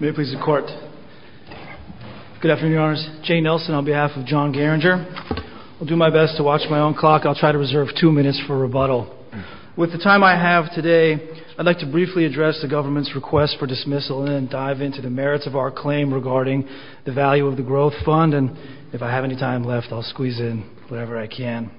May it please the court. Good afternoon, your honors. Jay Nelson on behalf of John Geringer. I'll do my best to watch my own clock. I'll try to reserve two minutes for rebuttal. With the time I have today, I'd like to briefly address the government's request for dismissal and dive into the merits of our claim regarding the value of the growth fund. And if I have any time left, I'll squeeze in whatever I can.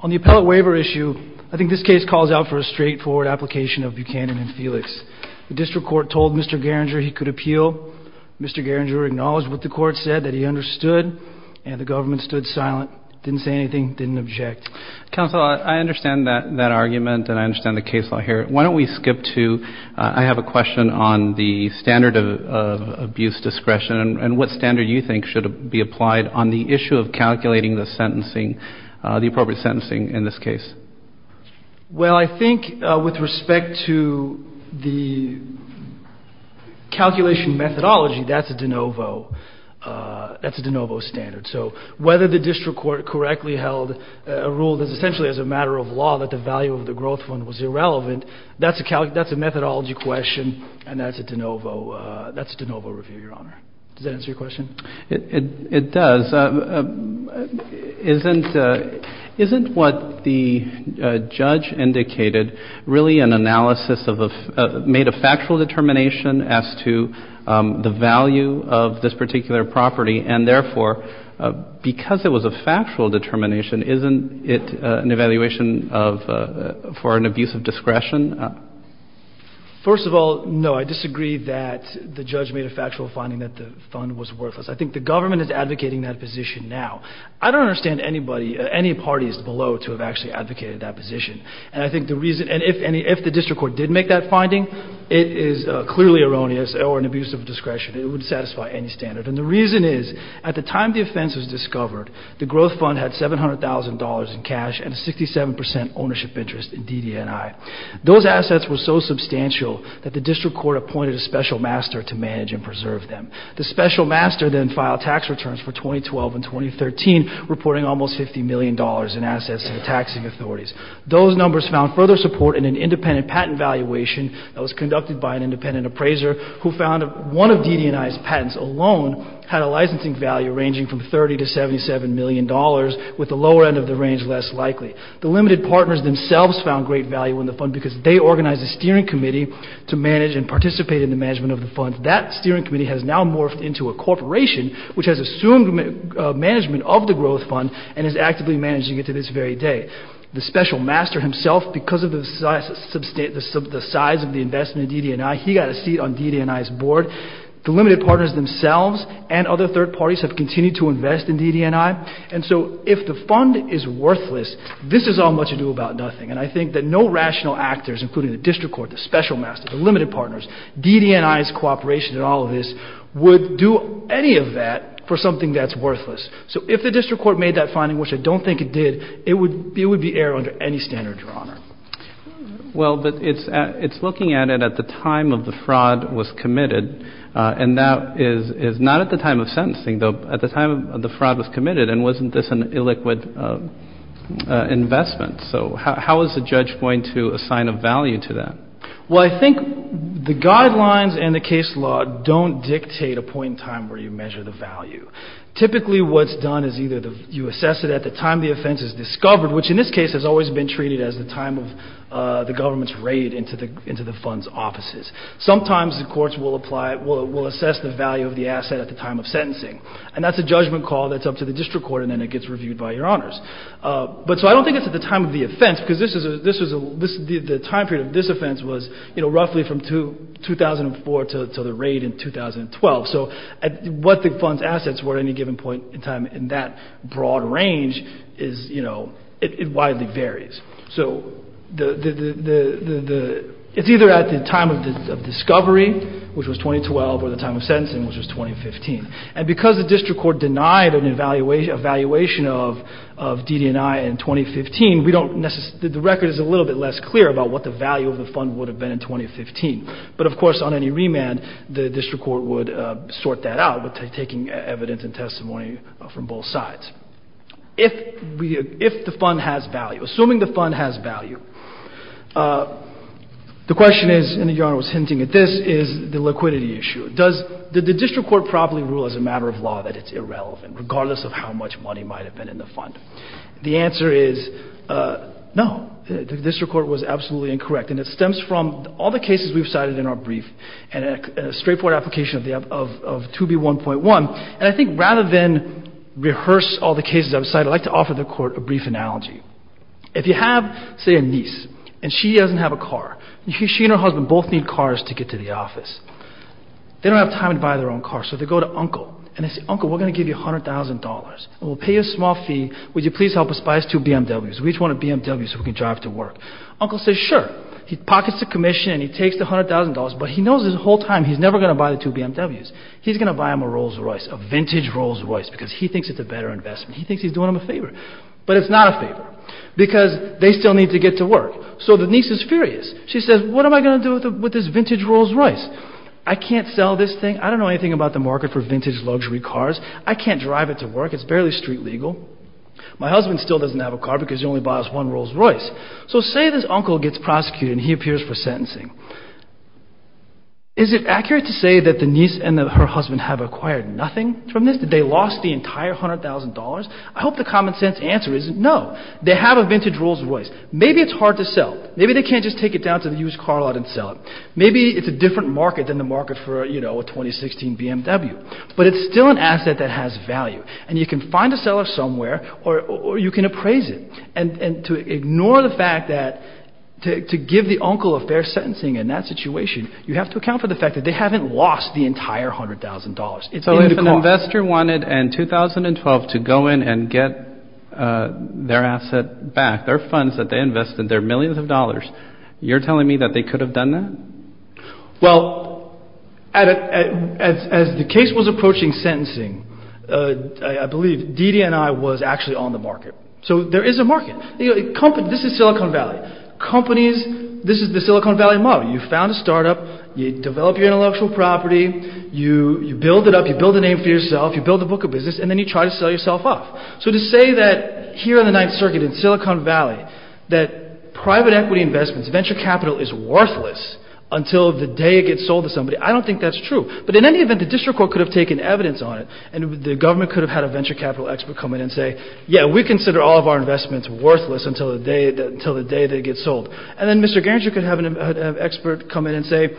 On the appellate waiver issue, I think this case calls out for a straightforward application of Buchanan and Felix. The district court told Mr. Geringer he could appeal. Mr. Geringer acknowledged what the court said, that he understood, and the government stood silent. Didn't say anything, didn't object. Counsel, I understand that argument and I understand the case law here. Why don't we skip to, I have a question on the standard of abuse discretion and what standard you think should be applied on the issue of calculating the sentencing, the appropriate sentencing in this case. Well, I think with respect to the calculation methodology, that's a de novo standard. So whether the district court correctly held a rule that's essentially as a matter of law that the value of the growth fund was irrelevant, that's a methodology question and that's a de novo review, Your Honor. Does that answer your question? It does. Counsel, isn't what the judge indicated really an analysis of a, made a factual determination as to the value of this particular property and, therefore, because it was a factual determination, isn't it an evaluation of, for an abuse of discretion? First of all, no. I disagree that the judge made a factual finding that the fund was worthless. I think the government is advocating that position now. I don't understand anybody, any parties below to have actually advocated that position and I think the reason, and if the district court did make that finding, it is clearly erroneous or an abuse of discretion. It would satisfy any standard and the reason is at the time the offense was discovered, the growth fund had $700,000 in cash and 67% ownership interest in DDNI. Those assets were so substantial that the district court appointed a special master to manage and preserve them. The special master then filed tax returns for 2012 and 2013, reporting almost $50 million in assets to the taxing authorities. Those numbers found further support in an independent patent valuation that was conducted by an independent appraiser who found that one of DDNI's patents alone had a licensing value ranging from $30 to $77 million, with the lower end of the range less likely. The limited partners themselves found great value in the fund because they organized a steering committee to manage and participate in the management of the fund. That steering committee has now morphed into a corporation which has assumed management of the growth fund and is actively managing it to this very day. The special master himself, because of the size of the investment in DDNI, he got a seat on DDNI's board. The limited partners themselves and other third parties have continued to invest in DDNI and so if the fund is worthless, this is all much ado about nothing and I think that no rational actors, including the district court, the special master, the limited partners, DDNI's cooperation in all of this, would do any of that for something that's worthless. So if the district court made that finding, which I don't think it did, it would be error under any standard, Your Honor. Well, but it's looking at it at the time of the fraud was committed and that is not at the time of sentencing, though at the time of the fraud was committed and wasn't this an illiquid investment. So how is the judge going to assign a value to that? Well, I think the guidelines and the case law don't dictate a point in time where you measure the value. Typically what's done is either you assess it at the time the offense is discovered, which in this case has always been treated as the time of the government's raid into the fund's offices. Sometimes the courts will apply, will assess the value of the asset at the time of sentencing and that's a judgment call that's up to the district court and then it gets reviewed by Your Honors. But so I don't think it's at the time of the offense because the time period of this offense was roughly from 2004 to the raid in 2012. So what the fund's assets were at any given point in time in that broad range is, you know, it widely varies. So it's either at the time of discovery, which was 2012, or the time of sentencing, which was 2015. And because the district court denied an evaluation of DD&I in 2015, the record is a little bit less clear about what the value of the fund would have been in 2015. But, of course, on any remand the district court would sort that out by taking evidence and testimony from both sides. If the fund has value, assuming the fund has value, the question is, and Your Honor was hinting at this, is the liquidity issue. Does the district court probably rule as a matter of law that it's irrelevant, regardless of how much money might have been in the fund? The answer is no. The district court was absolutely incorrect. And it stems from all the cases we've cited in our brief and a straightforward application of 2B1.1. And I think rather than rehearse all the cases I've cited, I'd like to offer the court a brief analogy. If you have, say, a niece, and she doesn't have a car. She and her husband both need cars to get to the office. They don't have time to buy their own car, so they go to Uncle. And they say, Uncle, we're going to give you $100,000. And we'll pay you a small fee. Would you please help us buy us two BMWs? We each want a BMW so we can drive to work. Uncle says, sure. He pockets the commission and he takes the $100,000, but he knows this whole time he's never going to buy the two BMWs. He's going to buy him a Rolls Royce, a vintage Rolls Royce, because he thinks it's a better investment. He thinks he's doing him a favor. But it's not a favor because they still need to get to work. So the niece is furious. She says, what am I going to do with this vintage Rolls Royce? I can't sell this thing. I don't know anything about the market for vintage luxury cars. I can't drive it to work. It's barely street legal. My husband still doesn't have a car because he only bought us one Rolls Royce. So say this uncle gets prosecuted and he appears for sentencing. Is it accurate to say that the niece and her husband have acquired nothing from this? Did they lost the entire $100,000? I hope the common sense answer is no. They have a vintage Rolls Royce. Maybe it's hard to sell. Maybe they can't just take it down to the used car lot and sell it. Maybe it's a different market than the market for a 2016 BMW. But it's still an asset that has value. And you can find a seller somewhere or you can appraise it. And to ignore the fact that to give the uncle a fair sentencing in that situation, you have to account for the fact that they haven't lost the entire $100,000. So if an investor wanted in 2012 to go in and get their asset back, their funds that they invested, their millions of dollars, you're telling me that they could have done that? Well, as the case was approaching sentencing, I believe Didi and I was actually on the market. So there is a market. This is Silicon Valley. Companies, this is the Silicon Valley model. You found a startup. You develop your intellectual property. You build it up. You build a name for yourself. You build a book of business, and then you try to sell yourself off. So to say that here on the Ninth Circuit in Silicon Valley that private equity investments, venture capital is worthless until the day it gets sold to somebody, I don't think that's true. But in any event, the district court could have taken evidence on it, and the government could have had a venture capital expert come in and say, yeah, we consider all of our investments worthless until the day they get sold. And then Mr. Garinger could have an expert come in and say,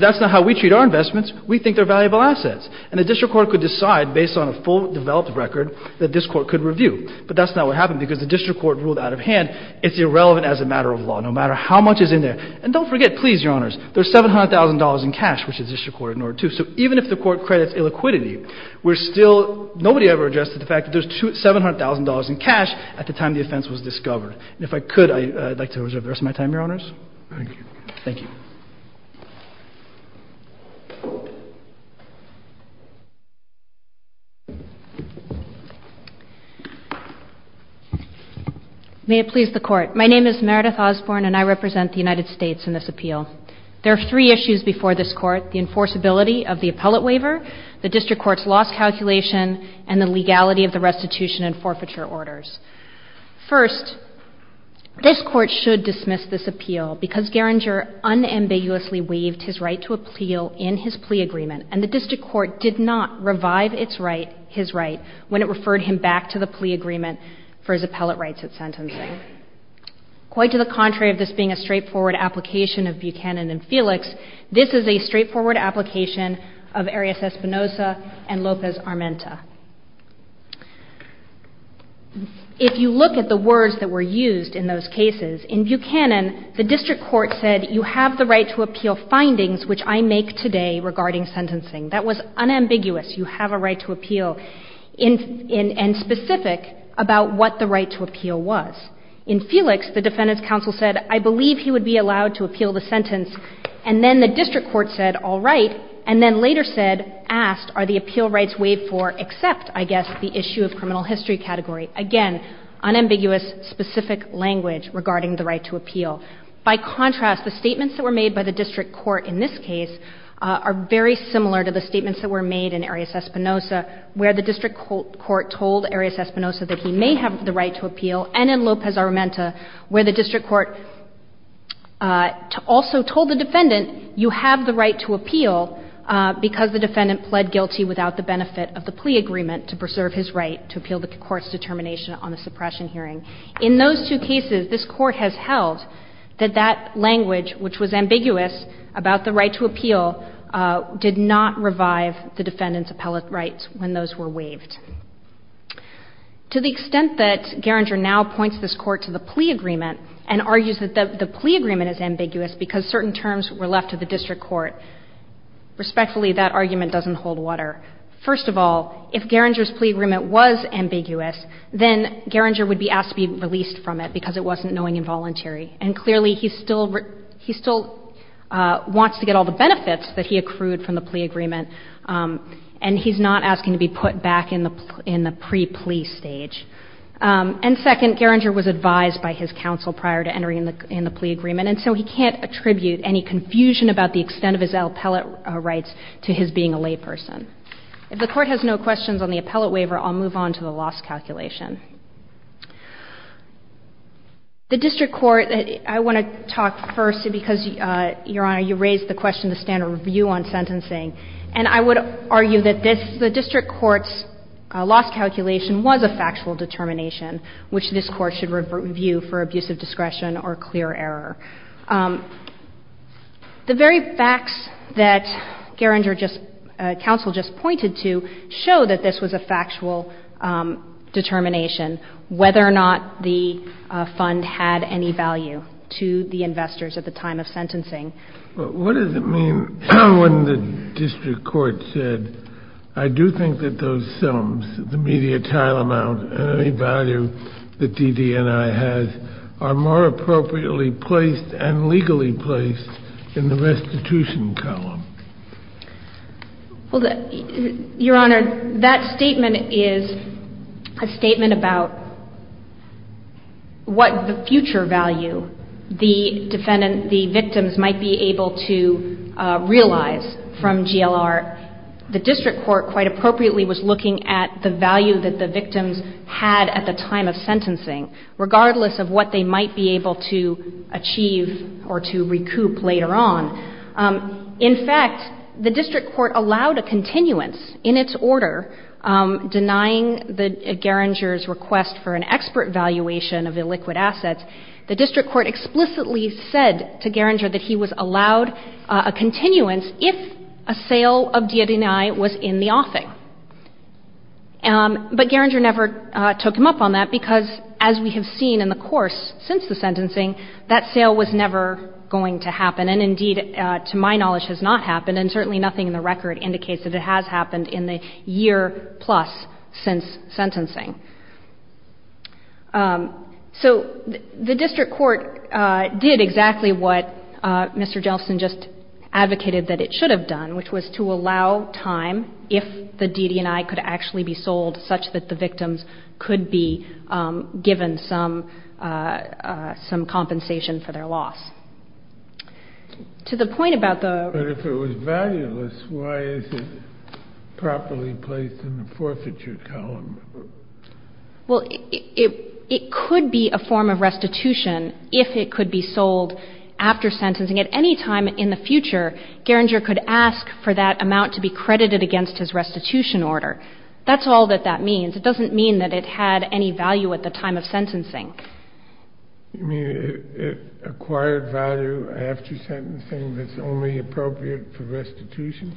that's not how we treat our investments. We think they're valuable assets. And the district court could decide based on a full developed record that this court could review. But that's not what happened because the district court ruled out of hand it's irrelevant as a matter of law, no matter how much is in there. And don't forget, please, Your Honors, there's $700,000 in cash, which the district court ignored too. So even if the court credits illiquidity, we're still – nobody ever addressed the fact that there's $700,000 in cash at the time the offense was discovered. And if I could, I'd like to reserve the rest of my time, Your Honors. Thank you. Thank you. May it please the Court. My name is Meredith Osborne, and I represent the United States in this appeal. There are three issues before this Court, the enforceability of the appellate waiver, the district court's loss calculation, and the legality of the restitution and forfeiture orders. First, this Court should dismiss this appeal because Geringer unambiguously waived his right to appeal in his plea agreement. And the district court did not revive its right – his right when it referred him back to the plea agreement for his appellate rights at sentencing. Quite to the contrary of this being a straightforward application of Buchanan and Felix, this is a straightforward application of Arias Espinoza and Lopez-Armenta. If you look at the words that were used in those cases, in Buchanan, the district court said, you have the right to appeal findings which I make today regarding sentencing. That was unambiguous, you have a right to appeal, and specific about what the right to appeal was. In Felix, the defendant's counsel said, I believe he would be allowed to appeal the sentence. And then the district court said, all right, and then later said, asked, are the appeal rights waived for except, I guess, the issue of criminal history category. Again, unambiguous, specific language regarding the right to appeal. By contrast, the statements that were made by the district court in this case are very similar to the statements that were made in Arias Espinoza, where the district court told Arias Espinoza that he may have the right to appeal, and in Lopez-Armenta, where the district court also told the defendant, you have the right to appeal because the defendant pled guilty without the benefit of the plea agreement to preserve his right to appeal the court's determination on the suppression hearing. In those two cases, this Court has held that that language, which was ambiguous about the right to appeal, did not revive the defendant's appellate rights when those were waived. To the extent that Geringer now points this Court to the plea agreement and argues that the plea agreement is ambiguous because certain terms were left to the district court, respectfully, that argument doesn't hold water. First of all, if Geringer's plea agreement was ambiguous, then Geringer would be asked to be released from it because it wasn't knowing and voluntary. And clearly, he still wants to get all the benefits that he accrued from the plea agreement, and he's not asking to be put back in the pre-plea stage. And second, Geringer was advised by his counsel prior to entering in the plea agreement, and so he can't attribute any confusion about the extent of his appellate rights to his being a layperson. If the Court has no questions on the appellate waiver, I'll move on to the loss calculation. The district court, I want to talk first because, Your Honor, you raised the question of the standard review on sentencing, and I would argue that this, the district court's loss calculation was a factual determination, which this Court should review for abusive discretion or clear error. The very facts that Geringer just, counsel just pointed to show that this was a factual determination, whether or not the fund had any value to the investors at the time of sentencing. But what does it mean when the district court said, I do think that those sums, the media tile amount and any value that DD&I has, are more appropriately placed and legally placed in the restitution column? Well, Your Honor, that statement is a statement about what the future value the defendant, the victims, might be able to realize from GLR. The district court quite appropriately was looking at the value that the victims had at the time of sentencing, regardless of what they might be able to achieve or to recoup later on. In fact, the district court allowed a continuance in its order, denying the Geringer's request for an expert valuation of illiquid assets. The district court explicitly said to Geringer that he was allowed a continuance if a sale of DD&I was in the offing. But Geringer never took him up on that because, as we have seen in the course since the sentencing, that sale was never going to happen, and indeed, to my knowledge, has not happened, and certainly nothing in the record indicates that it has happened in the year plus since sentencing. So the district court did exactly what Mr. Jeltsin just advocated that it should have done, which was to allow time if the DD&I could actually be sold such that the victims could be given some compensation for their loss. But if it was valueless, why is it properly placed in the forfeiture column? Well, it could be a form of restitution if it could be sold after sentencing. At any time in the future, Geringer could ask for that amount to be credited against his restitution order. That's all that that means. It doesn't mean that it had any value at the time of sentencing. You mean it acquired value after sentencing that's only appropriate for restitution?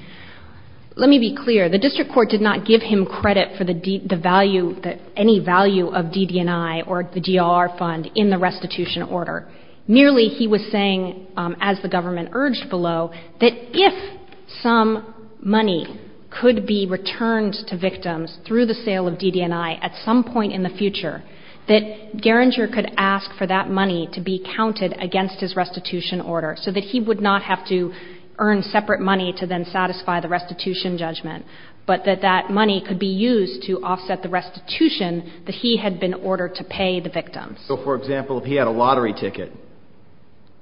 Let me be clear. The district court did not give him credit for the value, any value of DD&I or the DLR fund in the restitution order. Nearly he was saying, as the government urged below, that if some money could be returned to victims through the sale of DD&I at some point in the future, that Geringer could ask for that money to be counted against his restitution order so that he would not have to earn separate money to then satisfy the restitution judgment, but that that money could be used to offset the restitution that he had been ordered to pay the victims. So, for example, if he had a lottery ticket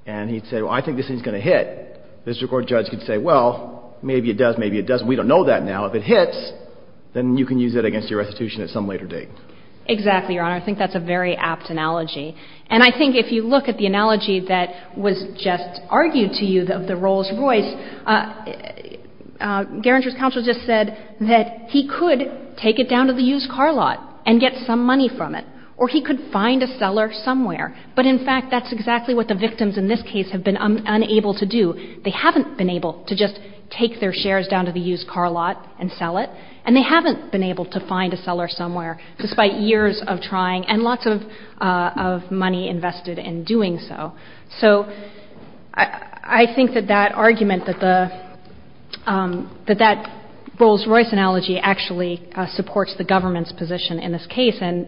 and he'd say, well, I think this thing's going to hit, the district court judge could say, well, maybe it does, maybe it doesn't. We don't know that now. If it hits, then you can use it against your restitution at some later date. Exactly, Your Honor. I think that's a very apt analogy. And I think if you look at the analogy that was just argued to you of the Rolls-Royce, Geringer's counsel just said that he could take it down to the used car lot and get some money from it, or he could find a seller somewhere. But, in fact, that's exactly what the victims in this case have been unable to do. They haven't been able to just take their shares down to the used car lot and sell it, and they haven't been able to find a seller somewhere, despite years of trying and lots of money invested in doing so. So I think that that argument, that that Rolls-Royce analogy actually supports the government's position in this case and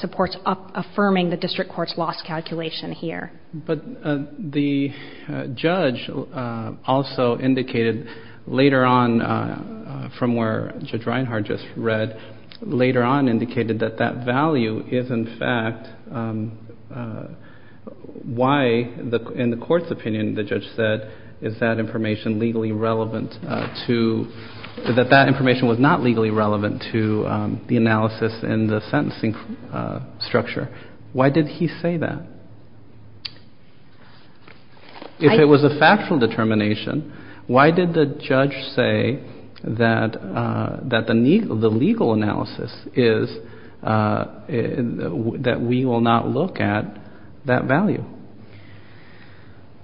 supports affirming the district court's loss calculation here. But the judge also indicated later on, from where Justice Sotomayor was speaking, which Judge Reinhart just read, later on indicated that that value is, in fact, why, in the court's opinion, the judge said, is that information legally relevant to, that that information was not legally relevant to the analysis and the sentencing structure. Why did he say that? If it was a factual determination, why did the judge say that the legal analysis is that we will not look at that value?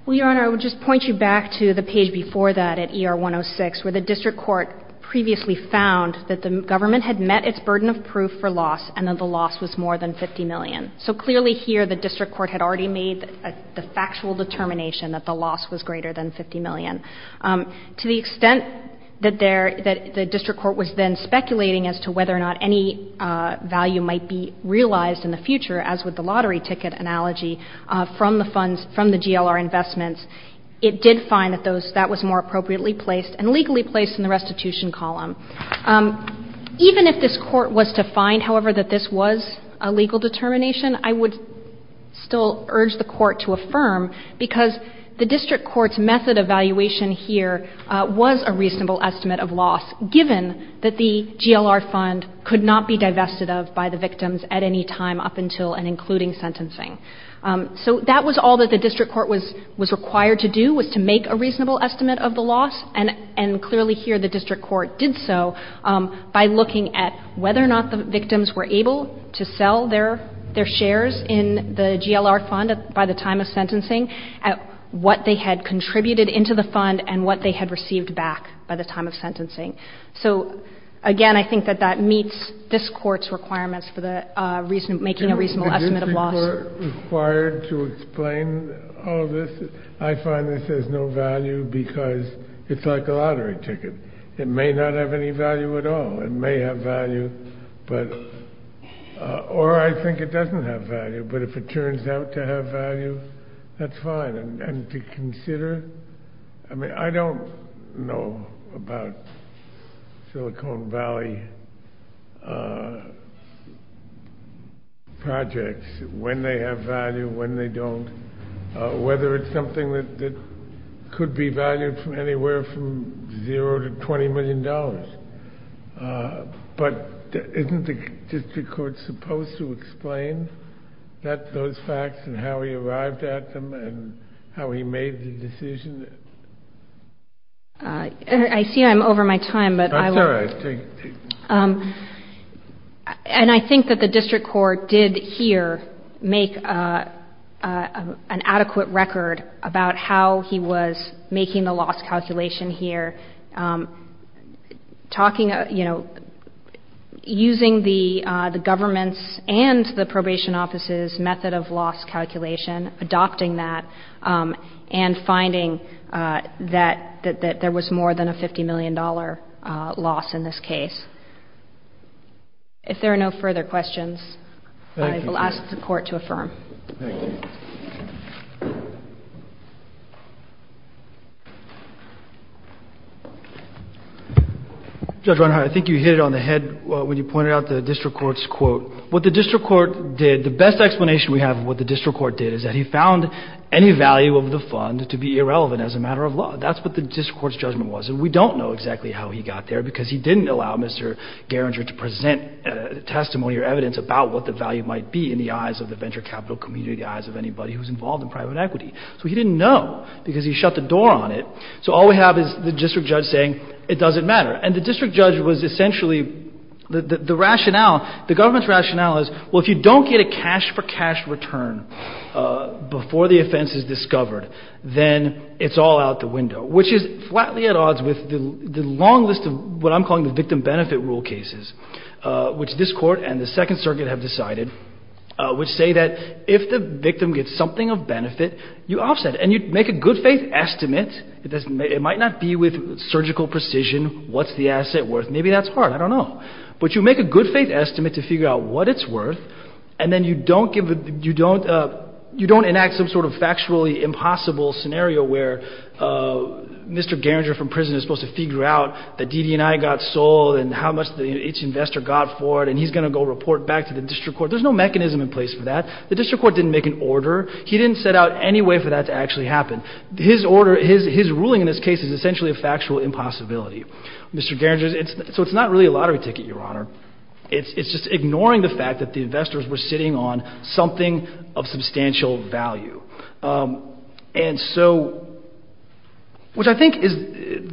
Well, Your Honor, I would just point you back to the page before that at ER 106, where the district court previously found that the government had met its burden of proof for loss, and that the loss was more than $50 million. So clearly here, the district court had already made the factual determination that the loss was greater than $50 million. To the extent that there, that the district court was then speculating as to whether or not any value might be realized in the future, as with the lottery ticket analogy, from the funds, from the GLR investments, it did find that those, that was more appropriately placed and legally placed in the restitution column. Even if this Court was to find, however, that this was a legal determination, I would still urge the Court to affirm, because the district court's method of valuation here was a reasonable estimate of loss, given that the GLR fund could not be divested of by the victims at any time up until and including sentencing. So that was all that the district court was required to do, was to make a reasonable estimate of the loss, and clearly here the district court did so by looking at whether or not the victims were able to sell their shares in the GLR fund by the time of sentencing, at what they had contributed into the fund, and what they had received back by the time of sentencing. So again, I think that that meets this Court's requirements for the reason, making a reasonable estimate of loss. If the Court were required to explain all of this, I find this has no value because it's like a lottery ticket. It may not have any value at all. It may have value, or I think it doesn't have value, but if it turns out to have value, that's fine. And to consider, I mean, I don't know about Silicon Valley projects, when they have value, when they don't, whether it's something that could be valued from anywhere from zero to $20 million, but isn't the district court supposed to explain those facts and how he made the decision? I see I'm over my time, but I will. That's all right. And I think that the district court did here make an adequate record about how he was making the loss calculation here, talking, you know, using the government's and the probation office's method of loss calculation, adopting that, and finding that there was more than a $50 million loss in this case. If there are no further questions, I will ask the Court to affirm. Thank you. Judge Reinhart, I think you hit it on the head when you pointed out the district court's quote. What the district court did, the best explanation we have of what the district court did is that he found any value of the fund to be irrelevant as a matter of law. That's what the district court's judgment was. And we don't know exactly how he got there because he didn't allow Mr. Geringer to present testimony or evidence about what the value might be in the eyes of the venture capital community, the eyes of anybody who's involved in private equity. So he didn't know because he shut the door on it. So all we have is the district judge saying it doesn't matter. And the district judge was essentially, the rationale, the government's rationale is, well, if you don't get a cash-for-cash return before the offense is discovered, then it's all out the window, which is flatly at odds with the long list of what I'm calling the victim benefit rule cases, which this Court and the Second Circuit have decided, which say that if the victim gets something of benefit, you offset it. And you make a good-faith estimate. It might not be with surgical precision. What's the asset worth? Maybe that's hard. I don't know. But you make a good-faith estimate to figure out what it's worth, and then you don't give a – you don't enact some sort of factually impossible scenario where Mr. Geringer from prison is supposed to figure out that DD&I got sold and how much each investor got for it, and he's going to go report back to the district court. There's no mechanism in place for that. The district court didn't make an order. He didn't set out any way for that to actually happen. His order – his ruling in this case is essentially a factual impossibility. Mr. Geringer's – so it's not really a lottery ticket, Your Honor. It's just ignoring the fact that the investors were sitting on something of substantial value. And so – which I think is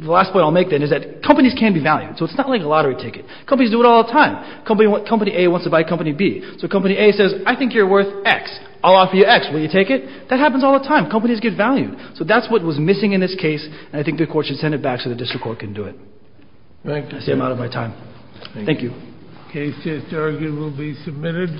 – the last point I'll make, then, is that companies can be valued. So it's not like a lottery ticket. Companies do it all the time. Company A wants to buy Company B. So Company A says, I think you're worth X. I'll offer you X. Will you take it? That happens all the time. Companies get valued. So that's what was missing in this case, and I think the court should send it back so the district court can do it. Thank you. I see I'm out of my time. Thank you. The case against Geringer will be submitted.